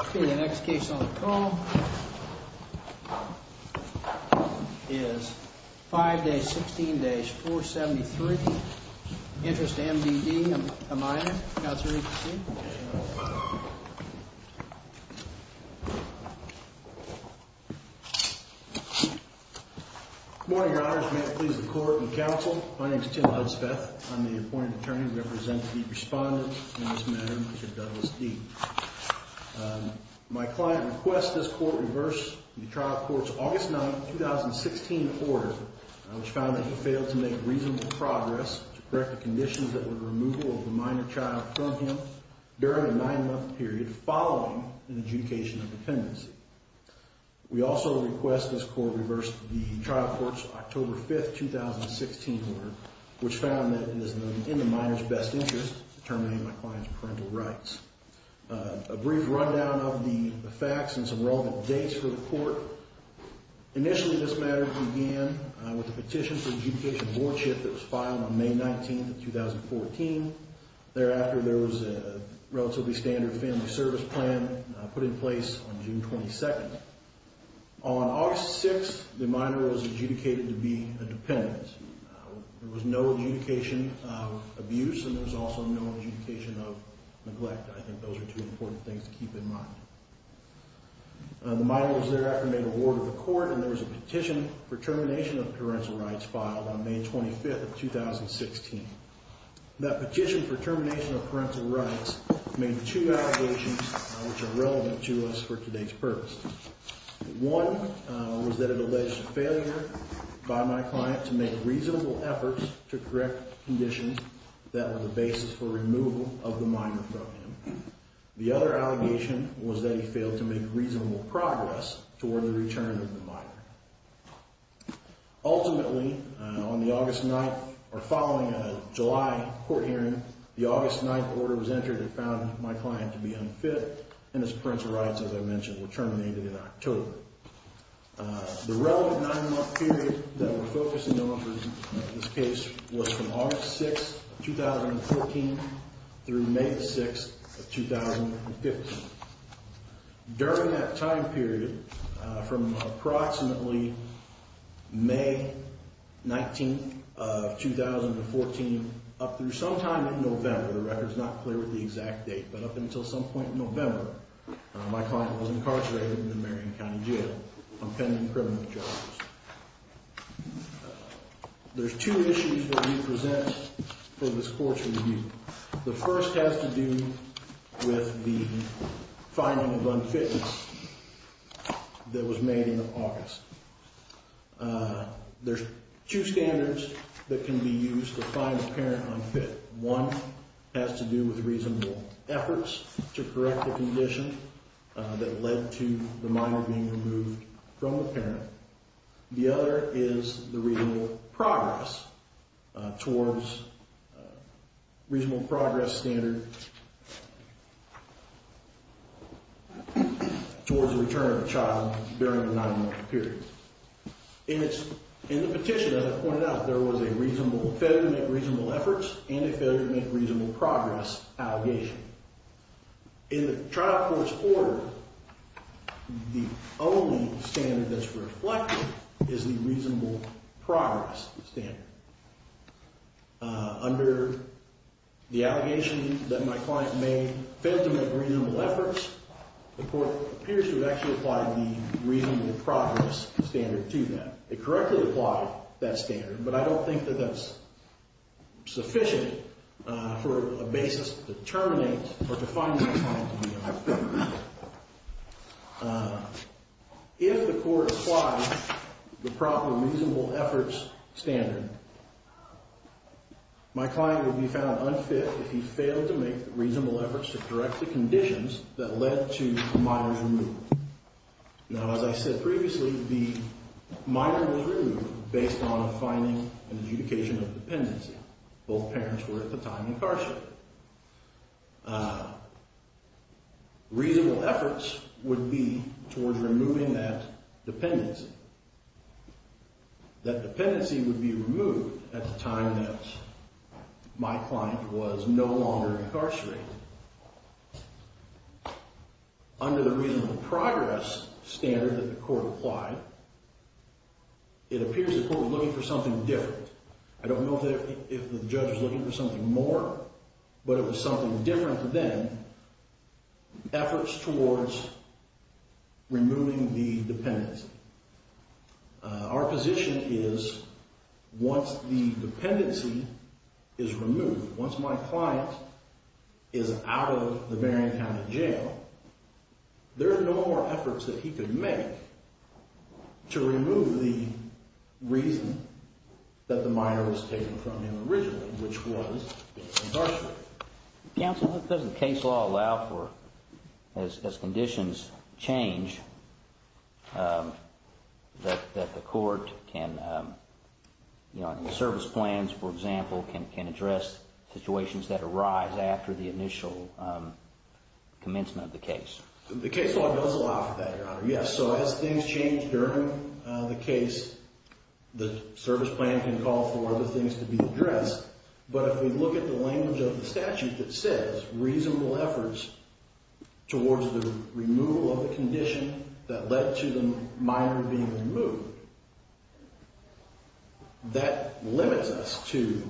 Okay, the next case on the call is 5-16-473, Interest of M.D.D., Amaya, Councilor Everson. Good morning, Your Honors. May it please the Court and Council, my name is Tim Hudspeth. I'm the appointed attorney representing the respondents in this matter, Measure Douglas D. My client requests this court reverse the trial court's August 9, 2016 order, which found that he failed to make reasonable progress to correct the conditions that were the removal of the minor child from him during a nine-month period following an adjudication of dependency. We also request this court reverse the trial court's October 5, 2016 order, which found that it is in the minor's best interest to determine my client's parental rights. A brief rundown of the facts and some relevant dates for the court. Initially, this matter began with a petition for adjudication boardship that was filed on May 19, 2014. Thereafter, there was a relatively standard family service plan put in place on June 22. On August 6, the minor was adjudicated to be a dependent. There was no adjudication of abuse, and there was also no adjudication of neglect. I think those are two important things to keep in mind. The minor was thereafter made a ward of the court, and there was a petition for termination of parental rights filed on May 25, 2016. That petition for termination of parental rights made two allegations which are relevant to us for today's purpose. One was that it alleged a failure by my client to make reasonable efforts to correct conditions that were the basis for removal of the minor from him. The other allegation was that he failed to make reasonable progress toward the return of the minor. Ultimately, on the August 9th, or following a July court hearing, the August 9th order was entered and found my client to be unfit, and his parental rights, as I mentioned, were terminated in October. The relevant nine-month period that we're focusing on for this case was from August 6, 2014, through May 6, 2015. During that time period, from approximately May 19, 2014, up through sometime in November, the record's not clear with the exact date, but up until some point in November, my client was incarcerated in the Marion County Jail on pending criminal charges. There's two issues that we present for this court's review. The first has to do with the finding of unfitness that was made in August. There's two standards that can be used to find the parent unfit. One has to do with reasonable efforts to correct the condition that led to the minor being removed from the parent. The other is the reasonable progress towards reasonable progress standard towards the return of the child during the nine-month period. In the petition, as I pointed out, there was a failure to make reasonable efforts and a failure to make reasonable progress allegation. In the trial court's order, the only standard that's reflected is the reasonable progress standard. Under the allegation that my client may have failed to make reasonable efforts, the court appears to have actually applied the reasonable progress standard to that. It correctly applied that standard, but I don't think that that's sufficient for a basis to terminate or to find my client to be unfit. If the court applies the proper reasonable efforts standard, my client would be found unfit if he failed to make reasonable efforts to correct the conditions that led to the minor's removal. Now, as I said previously, the minor was removed based on a finding and adjudication of dependency. Both parents were at the time incarcerated. Reasonable efforts would be towards removing that dependency. That dependency would be removed at the time that my client was no longer incarcerated. Under the reasonable progress standard that the court applied, it appears the court was looking for something different. I don't know if the judge was looking for something more, but it was something different than efforts towards removing the dependency. Our position is once the dependency is removed, once my client is out of the Marion County Jail, there are no more efforts that he could make to remove the reason that the minor was taken from him originally, which was incarceration. Counsel, doesn't case law allow for, as conditions change, that the court can, you know, service plans, for example, can address situations that arise after the initial commencement of the case? The case law does allow for that, Your Honor. Yes, so as things change during the case, the service plan can call for other things to be addressed. But if we look at the language of the statute that says reasonable efforts towards the removal of the condition that led to the minor being removed, that limits us to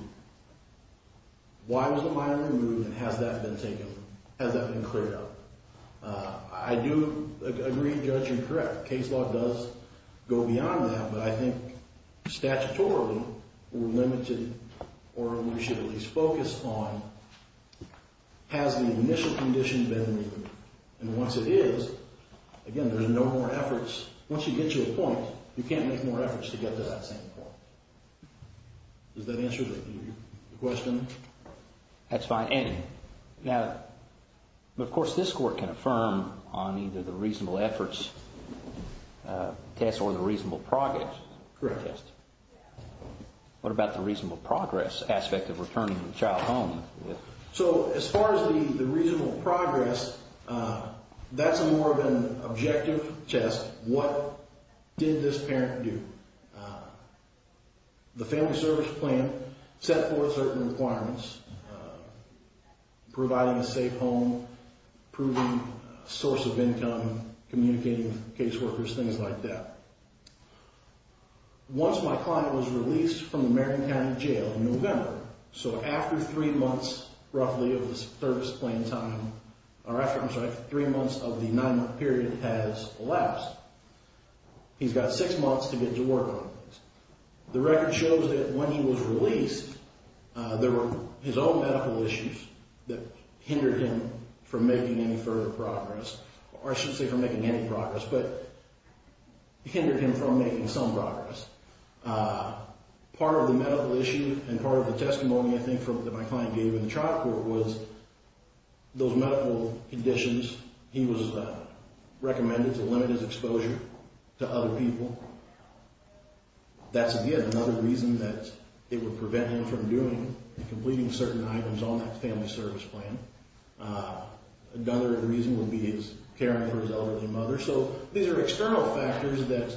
why was the minor removed and has that been taken, has that been cleared up? I do agree, judge, and correct. Case law does go beyond that, but I think statutorily we're limited or we should at least focus on has the initial condition been removed? And once it is, again, there's no more efforts. Once you get to a point, you can't make more efforts to get to that same point. Does that answer the question? That's fine. And now, of course, this court can affirm on either the reasonable efforts test or the reasonable progress test. Correct. What about the reasonable progress aspect of returning the child home? So as far as the reasonable progress, that's more of an objective test. What did this parent do? The family service plan set forth certain requirements, providing a safe home, proving a source of income, communicating with caseworkers, things like that. Once my client was released from the Marion County Jail in November, so after three months roughly of the service plan time, or I'm sorry, three months of the nine-month period has elapsed, he's got six months to get to work on this. The record shows that when he was released, there were his own medical issues that hindered him from making any further progress, or I shouldn't say from making any progress, but hindered him from making some progress. Part of the medical issue and part of the testimony, I think, that my client gave in the trial court was those medical conditions. He was recommended to limit his exposure to other people. That's, again, another reason that it would prevent him from doing and completing certain items on that family service plan. Another reason would be his caring for his elderly mother. So these are external factors that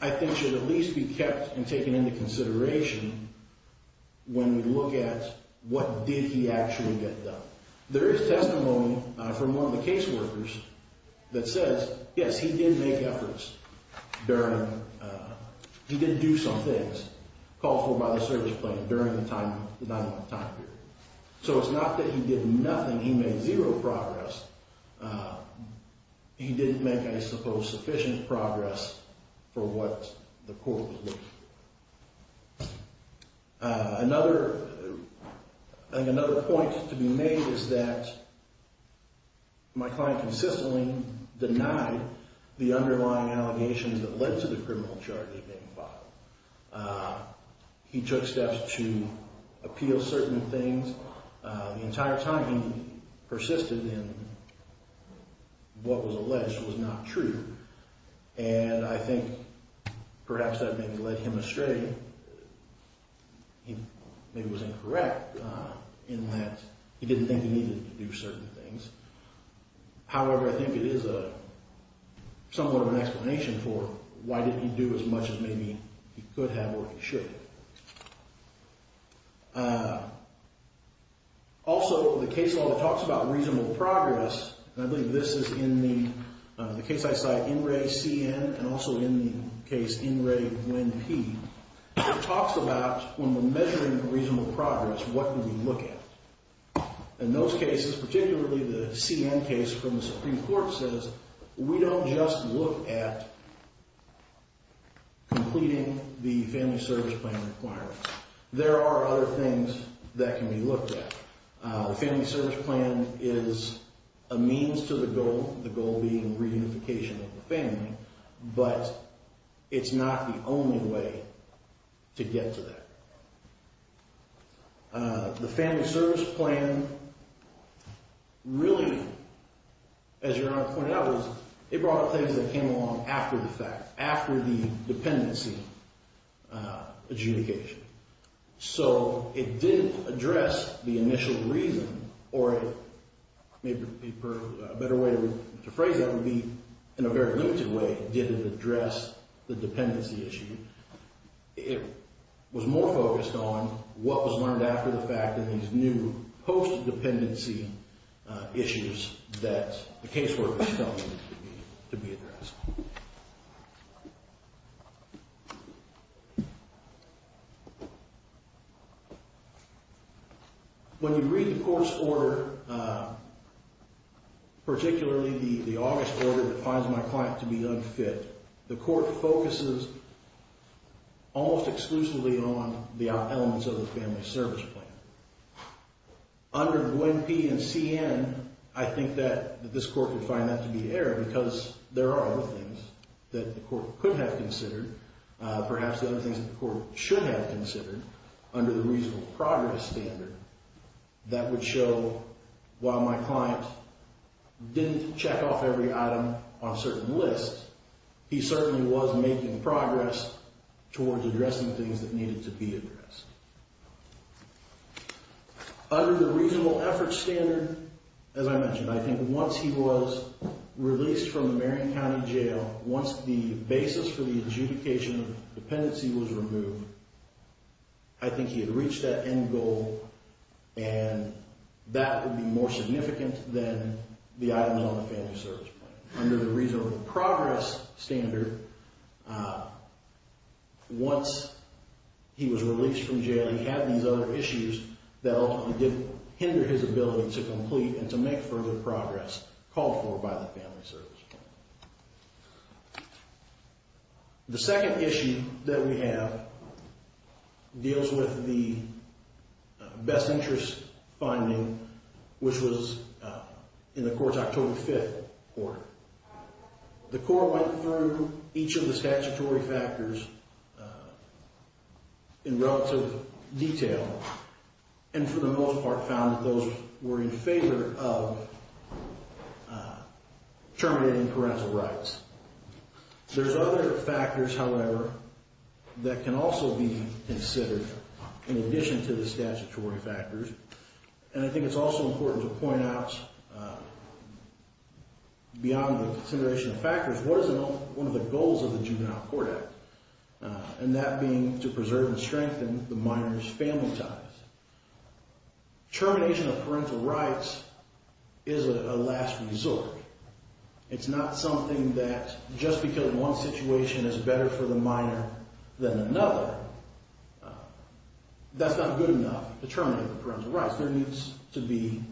I think should at least be kept and taken into consideration when we look at what did he actually get done. There is testimony from one of the caseworkers that says, yes, he did make efforts during, he did do some things called for by the service plan during the nine-month time period. So it's not that he did nothing, he made zero progress. He didn't make, I suppose, sufficient progress for what the court was looking for. Another point to be made is that my client consistently denied the underlying allegations that led to the criminal charges being filed. He took steps to appeal certain things. The entire time he persisted in what was alleged was not true. And I think perhaps that maybe led him astray. He maybe was incorrect in that he didn't think he needed to do certain things. However, I think it is somewhat of an explanation for why didn't he do as much as maybe he could have or he should have. Also, the case law that talks about reasonable progress, and I believe this is in the case I cite, In Re, C.N., and also in the case In Re, Winn, P. It talks about when we're measuring reasonable progress, what do we look at? In those cases, particularly the C.N. case from the Supreme Court, says we don't just look at completing the family service plan requirements. There are other things that can be looked at. The family service plan is a means to the goal, the goal being reunification of the family, but it's not the only way to get to that. The family service plan really, as Your Honor pointed out, it brought up things that came along after the fact, after the dependency adjudication. So it did address the initial reason, or maybe a better way to phrase that would be in a very limited way, did it address the dependency issue. It was more focused on what was learned after the fact in these new post-dependency issues that the casework was telling me to be addressed. When you read the court's order, particularly the August order that finds my client to be unfit, the court focuses almost exclusively on the elements of the family service plan. Under Gwen P. and C.N., I think that this court would find that to be error because there are other things that the court could have considered, perhaps other things that the court should have considered under the reasonable progress standard that would show while my client didn't check off every item on a certain list, he certainly was making progress towards addressing things that needed to be addressed. Under the reasonable effort standard, as I mentioned, I think once he was released from the Marion County Jail, once the basis for the adjudication of dependency was removed, I think he had reached that end goal, and that would be more significant than the items on the family service plan. Under the reasonable progress standard, once he was released from jail, he had these other issues that ultimately did hinder his ability to complete and to make further progress called for by the family service plan. The second issue that we have deals with the best interest finding, which was in the court's October 5th order. The court went through each of the statutory factors in relative detail, and for the most part found that those were in favor of terminating parental rights. There's other factors, however, that can also be considered in addition to the statutory factors, and I think it's also important to point out beyond the consideration of factors, what is one of the goals of the Juvenile Court Act, and that being to preserve and strengthen the minor's family ties. Termination of parental rights is a last resort. It's not something that just because one situation is better for the minor than another, that's not good enough to terminate the parental rights. There needs to be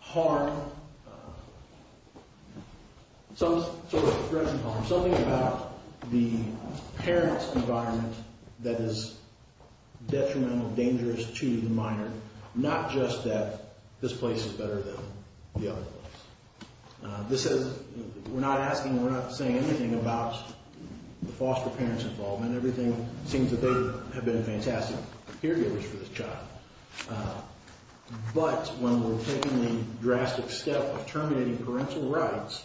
harm, some sort of threatening harm, something about the parent's environment that is detrimental, dangerous to the minor, not just that this place is better than the other place. We're not asking, we're not saying anything about the foster parent's involvement. Everything seems that they have been fantastic caregivers for this child, but when we're taking the drastic step of terminating parental rights,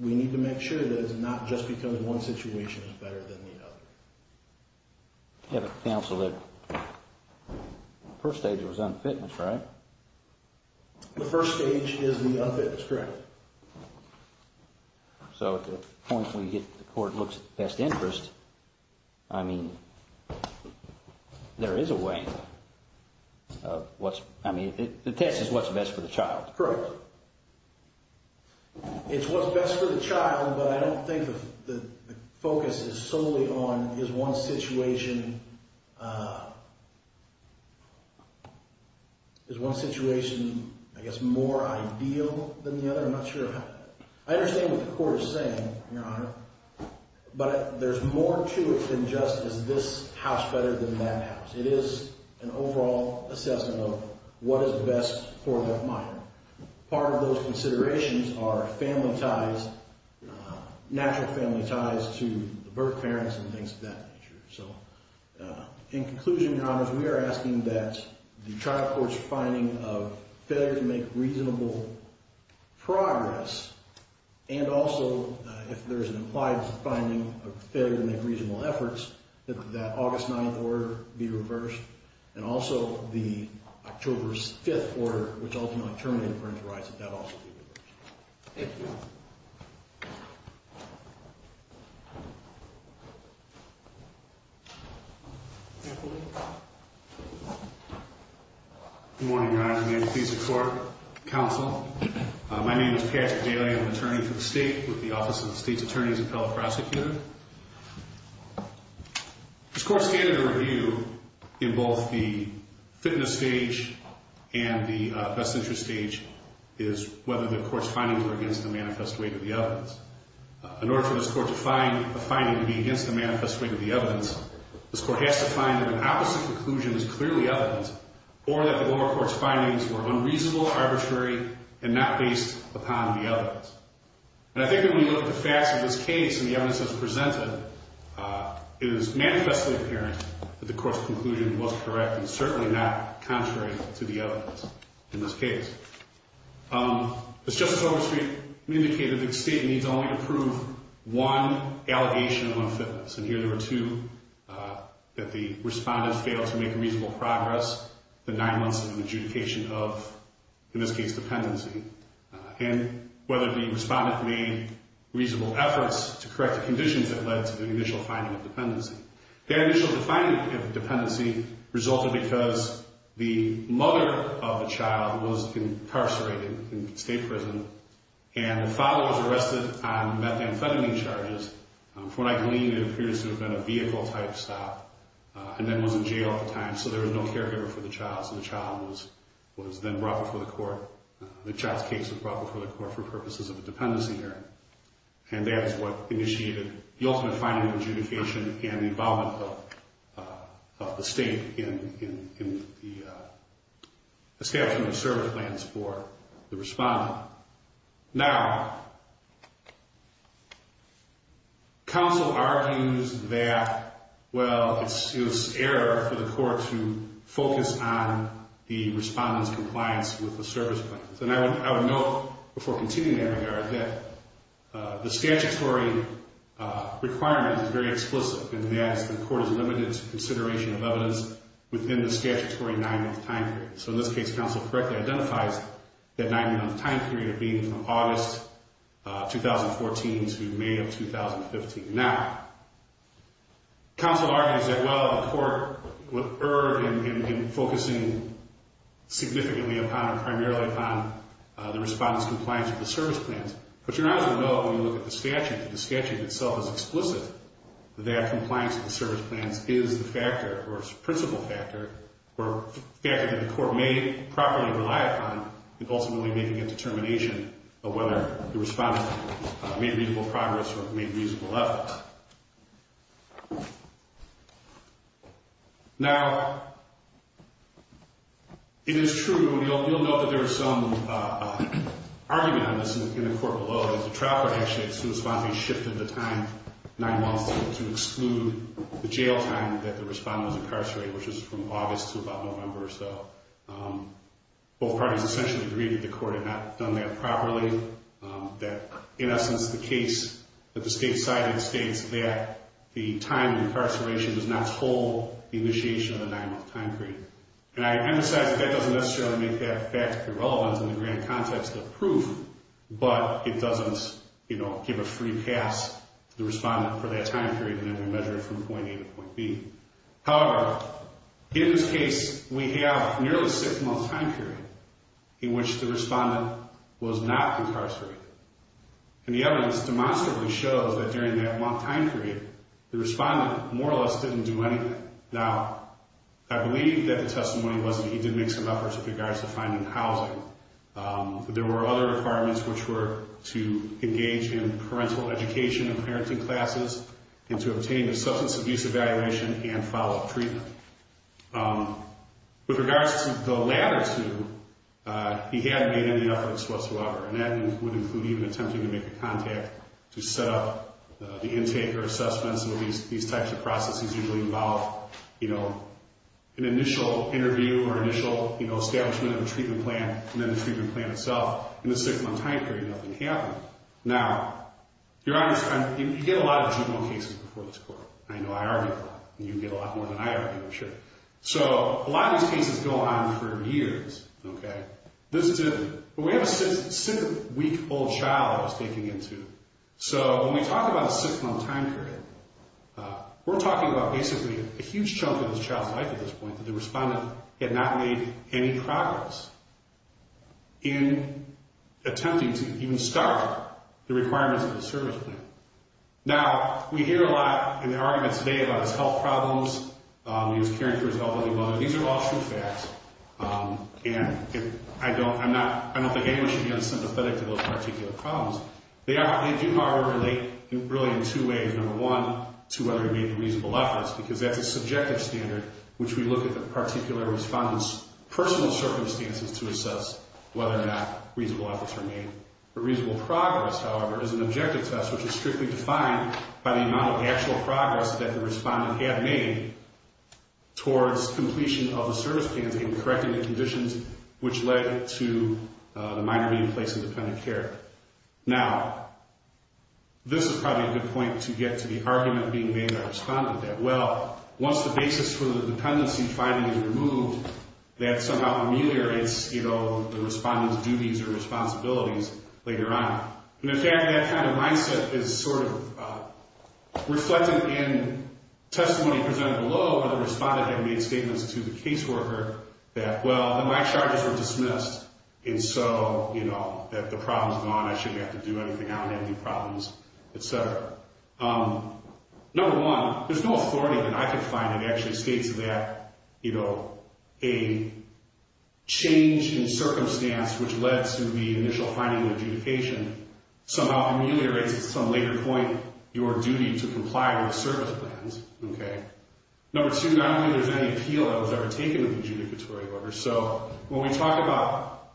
we need to make sure that it's not just because one situation is better than the other. You have a counsel that the first stage was unfitness, right? The first stage is the unfitness, correct. So at the point where you get the court looks at best interest, I mean, there is a way. I mean, the test is what's best for the child. Correct. It's what's best for the child, but I don't think the focus is solely on is one situation more ideal than the other. I'm not sure. I understand what the court is saying, Your Honor, but there's more to it than just is this house better than that house. It is an overall assessment of what is best for that minor. Part of those considerations are family ties, natural family ties to the birth parents and things of that nature. So in conclusion, Your Honor, we are asking that the trial court's finding of failure to make reasonable progress and also if there's an implied finding of failure to make reasonable efforts, that that August 9th order be reversed and also the October's 5th order, which ultimately terminated parental rights, that that also be reversed. Thank you. Good morning, Your Honor. I'm the appeasement court counsel. My name is Patrick Bailey. I'm an attorney for the state with the Office of the State's Attorney's Appellate Prosecutor. This court's standard of review in both the fitness stage and the best interest stage is whether the court's findings were against the manifest weight of the evidence. In order for this court to find a finding to be against the manifest weight of the evidence, this court has to find that an opposite conclusion is clearly evidence or that the lower court's findings were unreasonable, arbitrary, and not based upon the evidence. And I think when we look at the facts of this case and the evidence that's presented, it is manifestly apparent that the court's conclusion was correct and certainly not contrary to the evidence in this case. As Justice Overstreet indicated, the state needs only to prove one allegation of unfitness. And here there were two, that the respondent failed to make reasonable progress, the nine months of adjudication of, in this case, dependency, and whether the respondent made reasonable efforts to correct the conditions that led to the initial finding of dependency. Their initial finding of dependency resulted because the mother of the child was incarcerated in state prison and the father was arrested on methamphetamine charges for what I believe in periods of a vehicle-type stop and then was in jail at the time, so there was no caregiver for the child. So the child was then brought before the court. The child's case was brought before the court for purposes of a dependency hearing. And that is what initiated the ultimate finding of adjudication and the involvement of the state in the establishment of service plans for the respondent. Now, counsel argues that, well, it's error for the court to focus on the respondent's compliance with the service plans. And I would note before continuing that regard that the statutory requirement is very explicit in that the court is limited to consideration of evidence within the statutory nine-month time period. So in this case, counsel correctly identifies that nine-month time period being from August 2014 to May of 2015. Now, counsel argues that, well, the court would err in focusing significantly upon or primarily upon the respondent's compliance with the service plans. But you're not going to know when you look at the statute if the statute itself is explicit that compliance with the service plans is the factor or its principal factor or a factor that the court may properly rely upon in ultimately making a determination of whether the respondent made reasonable progress or made reasonable efforts. Now, it is true, and you'll note that there is some argument on this in the court below, that the trial court actually had to respond to be shifted the time, nine months, to exclude the jail time that the respondent was incarcerated, which was from August to about November or so. Both parties essentially agreed that the court had not done that properly, that, in essence, the case that the state cited states that the time of incarceration does not hold the initiation of the nine-month time period. And I emphasize that that doesn't necessarily make that fact irrelevant in the grand context of the proof, but it doesn't, you know, give a free pass to the respondent for that time period and then we measure it from point A to point B. However, in this case, we have nearly a six-month time period in which the respondent was not incarcerated. And the evidence demonstrably shows that during that long time period, the respondent more or less didn't do anything. Now, I believe that the testimony was that he did make some efforts with regards to finding housing, but there were other requirements which were to engage in parental education and parenting classes and to obtain a substance abuse evaluation and follow-up treatment. With regards to the latter two, he hadn't made any efforts whatsoever, and that would include even attempting to make a contact to set up the intake or assessments. These types of processes usually involve, you know, an initial interview or initial establishment of a treatment plan and then the treatment plan itself. In the six-month time period, nothing happened. Now, you get a lot of juvenile cases before this court. I know I argue a lot, and you get a lot more than I argue, I'm sure. So a lot of these cases go on for years, okay? This is a—we have a six-week-old child I was taking into. So when we talk about a six-month time period, we're talking about basically a huge chunk of this child's life at this point that the respondent had not made any progress in attempting to even start the requirements of the service plan. Now, we hear a lot in the argument today about his health problems. He was caring for his elderly mother. These are all true facts, and I don't—I'm not—I don't think anyone should be unsympathetic to those particular problems. They are—they do not relate really in two ways. Number one, to whether he made reasonable efforts, because that's a subjective standard which we look at the particular respondent's personal circumstances to assess whether or not reasonable efforts were made. Reasonable progress, however, is an objective test, which is strictly defined by the amount of actual progress that the respondent had made towards completion of the service plan and correcting the conditions which led to the minor being placed in dependent care. Now, this is probably a good point to get to the argument being made by the respondent, that, well, once the basis for the dependency finding is removed, that somehow ameliorates, you know, the respondent's duties or responsibilities later on. And, in fact, that kind of mindset is sort of reflected in testimony presented below where the respondent had made statements to the caseworker that, well, my charges were dismissed, and so, you know, that the problem's gone, I shouldn't have to do anything, I don't have any problems, et cetera. Number one, there's no authority that I could find that actually states that, you know, a change in circumstance which led to the initial finding of adjudication somehow ameliorates at some later point your duty to comply with service plans, okay? Number two, not only is there any appeal that was ever taken of the adjudicatory order, so when we talk about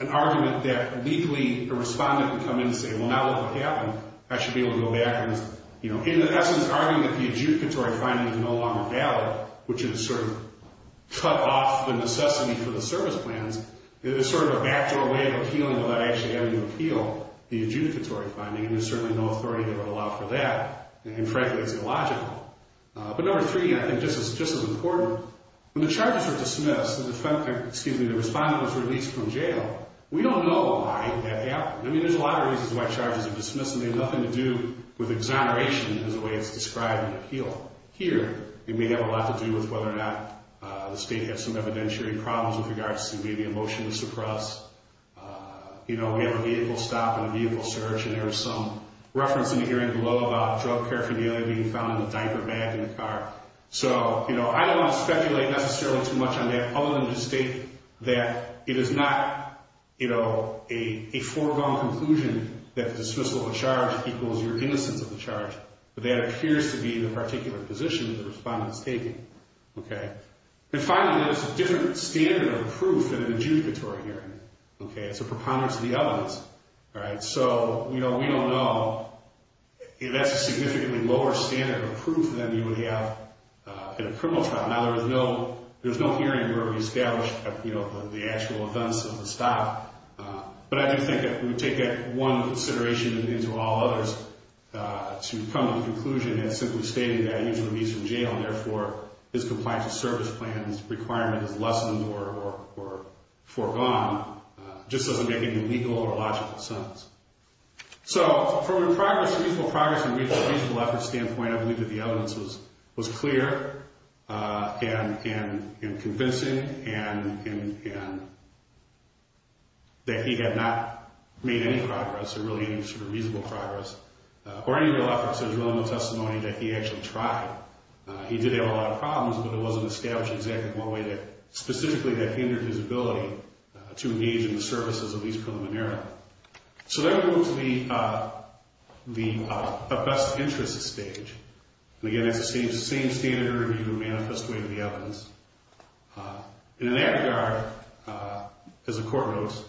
an argument that legally the respondent would come in and say, well, now look what happened, I should be able to go back and, you know, in essence, arguing that the adjudicatory finding is no longer valid, which is sort of cut off the necessity for the service plans, it's sort of a backdoor way of appealing without actually having to appeal the adjudicatory finding, and there's certainly no authority that would allow for that, and, frankly, it's illogical. But number three, I think just as important, when the charges were dismissed, excuse me, the respondent was released from jail, we don't know why that happened. I mean, there's a lot of reasons why charges are dismissed, and they have nothing to do with exoneration as a way it's described in the appeal. Here, it may have a lot to do with whether or not the state has some evidentiary problems with regards to maybe a motion to suppress. You know, we have a vehicle stop and a vehicle search, and there was some reference in the hearing below about drug paraphernalia being found in the diaper bag in the car. So, you know, I don't want to speculate necessarily too much on that, other than to state that it is not, you know, a foregone conclusion that the dismissal of a charge equals your innocence of the charge, but that appears to be the particular position that the respondent is taking. Okay? And finally, there's a different standard of proof in an adjudicatory hearing. Okay? It's a preponderance of the evidence. All right? So, you know, we don't know. That's a significantly lower standard of proof than you would have in a criminal trial. Now, there's no hearing where we established, you know, the actual events of the stop, but I do think that we take that one consideration into all others to come to the conclusion that simply stating that a user leaves from jail and, therefore, his compliance with service plans requirement is lessened or foregone just doesn't make any legal or logical sense. So, from a reasonable progress and reasonable effort standpoint, I believe that the evidence was clear and convincing and that he had not made any progress, or really any sort of reasonable progress, or any real efforts as well in the testimony that he actually tried. He did have a lot of problems, but it wasn't established exactly the one way that specifically that hindered his ability to engage in the services of his preliminary. So, then we move to the best interest stage. And, again, it's the same standard interview to manifest away the evidence. In that regard, as the Court notes,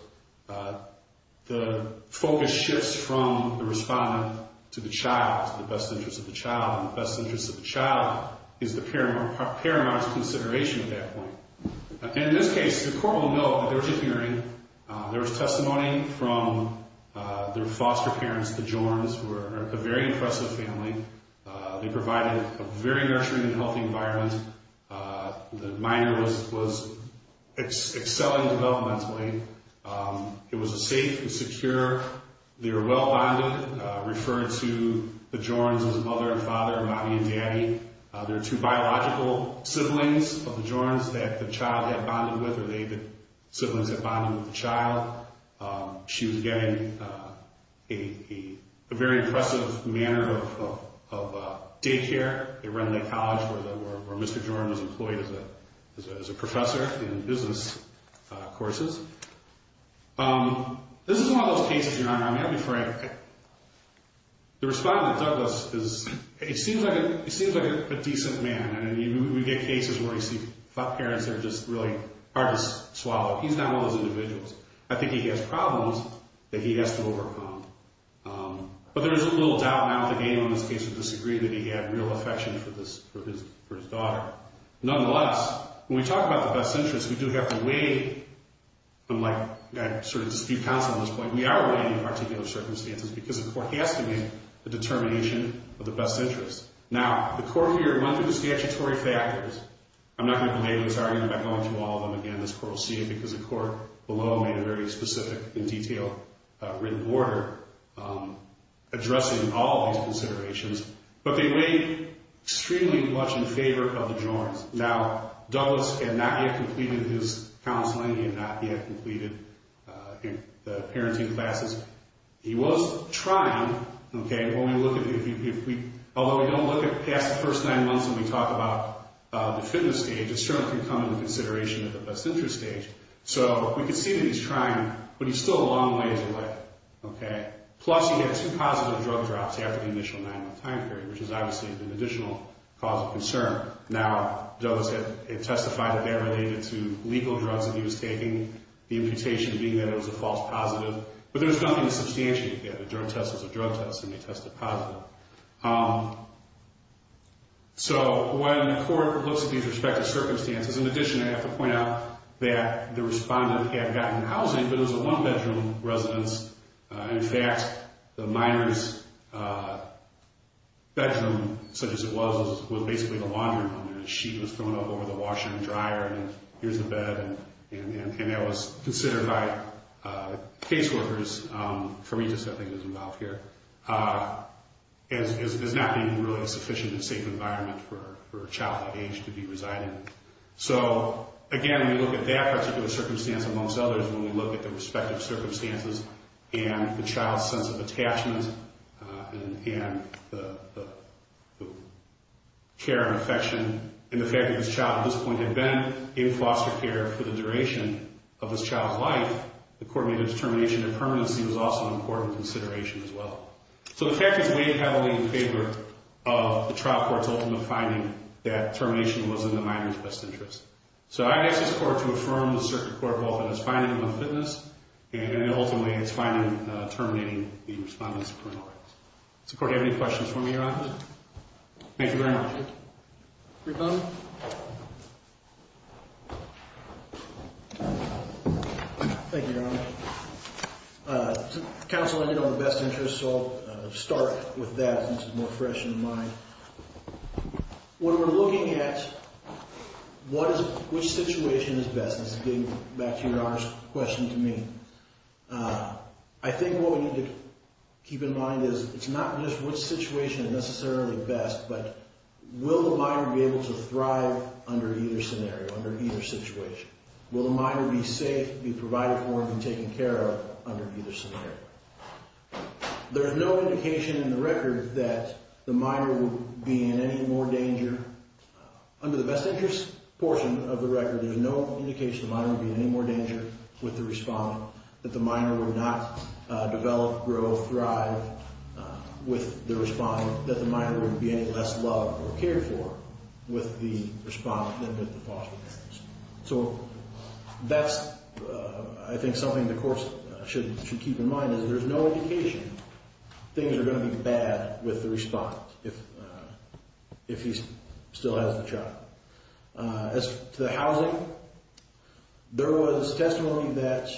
the focus shifts from the respondent to the child, to the best interest of the child, and the best interest of the child is the paramount consideration at that point. In this case, the Court will know that there was a hearing, there was testimony from their foster parents, the Jorns, who are a very impressive family. They provided a very nurturing and healthy environment. The minor was excelling developmentally. It was safe and secure. They were well-bonded, referred to the Jorns as mother and father, mommy and daddy. They're two biological siblings of the Jorns that the child had bonded with, siblings that bonded with the child. She was getting a very impressive manner of daycare. They run the college where Mr. Jorn was employed as a professor in business courses. This is one of those cases, Your Honor, I'm happy for it. The respondent, Douglas, is, it seems like a decent man. We get cases where we see foster parents that are just really hard to swallow. He's not one of those individuals. I think he has problems that he has to overcome. But there is a little doubt now that anyone in this case would disagree that he had real affection for his daughter. Nonetheless, when we talk about the best interest, we do have to weigh, and like I sort of dispute counsel at this point, we are weighing particular circumstances because the Court has to weigh the determination of the best interest. Now, the Court here went through the statutory factors. I'm not going to belabor this argument by going through all of them again. This Court will see it because the Court below made a very specific and detailed written order addressing all of these considerations. But they weigh extremely much in favor of the Jorns. Now, Douglas had not yet completed his counseling. He had not yet completed the parenting classes. He was trying. Although we don't look past the first nine months when we talk about the fitness stage, it certainly can come into consideration at the best interest stage. So we can see that he's trying, but he's still a long ways away. Plus, he had two positive drug drops after the initial nine-month time period, which is obviously an additional cause of concern. Now, Douglas had testified that they were related to legal drugs that he was taking, the imputation being that it was a false positive, but there was nothing to substantiate that. The drug test was a drug test, and they tested positive. So when the Court looks at these respective circumstances, in addition, I have to point out that the respondent had gotten housing, but it was a one-bedroom residence. In fact, the minor's bedroom, such as it was, was basically the laundry room. A sheet was thrown up over the washer and dryer, and here's the bed. And that was considered by caseworkers, for me just, I think, as involved here, as not being really a sufficient and safe environment for a child of that age to be residing. So, again, when we look at that particular circumstance, amongst others, when we look at the respective circumstances and the child's sense of attachment and the care and affection, and the fact that this child, at this point, had been in foster care for the duration of this child's life, the Court made a determination that permanency was also an important consideration as well. So the case is weighed heavily in favor of the trial court's ultimate finding that termination was in the minor's best interest. So I'd ask this Court to affirm the Circuit Court both in its finding of unfitness and ultimately its finding terminating the respondent's criminal rights. Does the Court have any questions for me, Your Honor? Thank you very much. Your Honor. Thank you, Your Honor. Counsel, I did it on the best interest, so I'll start with that since it's more fresh in the mind. When we're looking at what is, which situation is best, and this is getting back to Your Honor's question to me, I think what we need to keep in mind is it's not just which situation is necessarily best, but will the minor be able to thrive under either scenario, under either situation? Will the minor be safe, be provided for, and be taken care of under either scenario? There is no indication in the record that the minor would be in any more danger. Under the best interest portion of the record, there's no indication the minor would be in any more danger with the respondent, that the minor would not develop, grow, thrive with the respondent, that the minor would be any less loved or cared for with the respondent than with the foster parents. So that's, I think, something the Court should keep in mind, is there's no indication things are going to be bad with the respondent if he still has the child. As to the housing, there was testimony that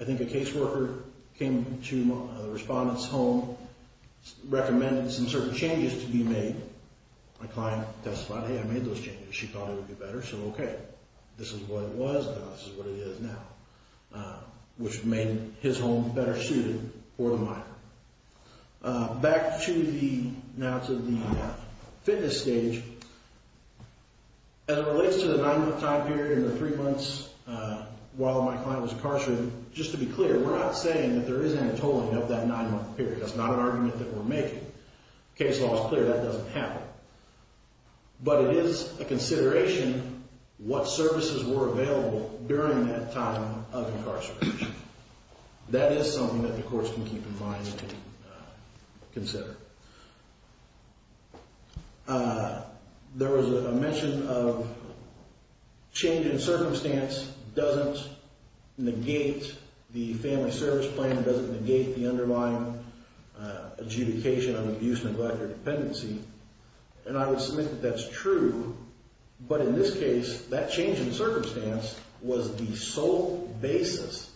I think a caseworker came to the respondent's home, recommended some certain changes to be made. My client testified, hey, I made those changes. She thought it would be better, so okay. This is what it was, now this is what it is now, which made his home better suited for the minor. Back to the fitness stage. As it relates to the nine-month time period and the three months while my client was incarcerated, just to be clear, we're not saying that there isn't a tolling of that nine-month period. That's not an argument that we're making. Case law is clear that doesn't happen. But it is a consideration what services were available during that time of incarceration. That is something that the Court can keep in mind to consider. There was a mention of change in circumstance doesn't negate the family service plan, doesn't negate the underlying adjudication of abuse, neglect, or dependency. And I would submit that that's true. But in this case, that change in circumstance was the sole basis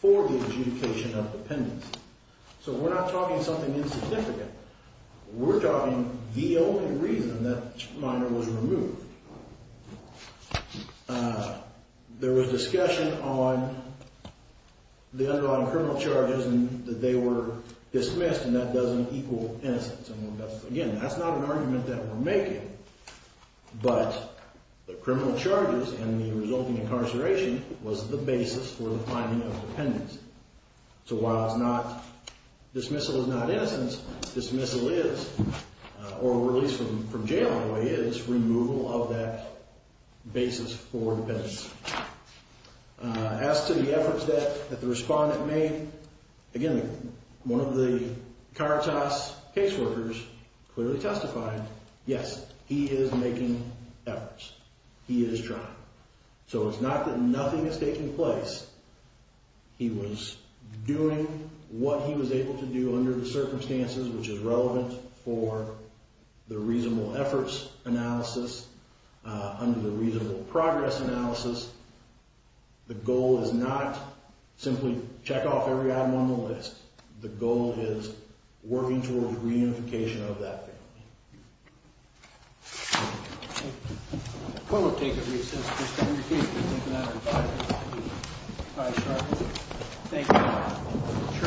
for the adjudication of dependency. So we're not talking something insignificant. We're talking the only reason that minor was removed. There was discussion on the underlying criminal charges and that they were dismissed and that doesn't equal innocence. Again, that's not an argument that we're making. But the criminal charges and the resulting incarceration was the basis for the finding of dependence. So while dismissal is not innocence, dismissal is, or at least from jail, by the way, is removal of that basis for dependence. As to the efforts that the respondent made, again, one of the Caritas caseworkers clearly testified, yes, he is making efforts. He is trying. So it's not that nothing is taking place. He was doing what he was able to do under the circumstances, which is relevant for the reasonable efforts analysis, under the reasonable progress analysis. The goal is not simply check off every item on the list. The goal is working towards reunification of that family.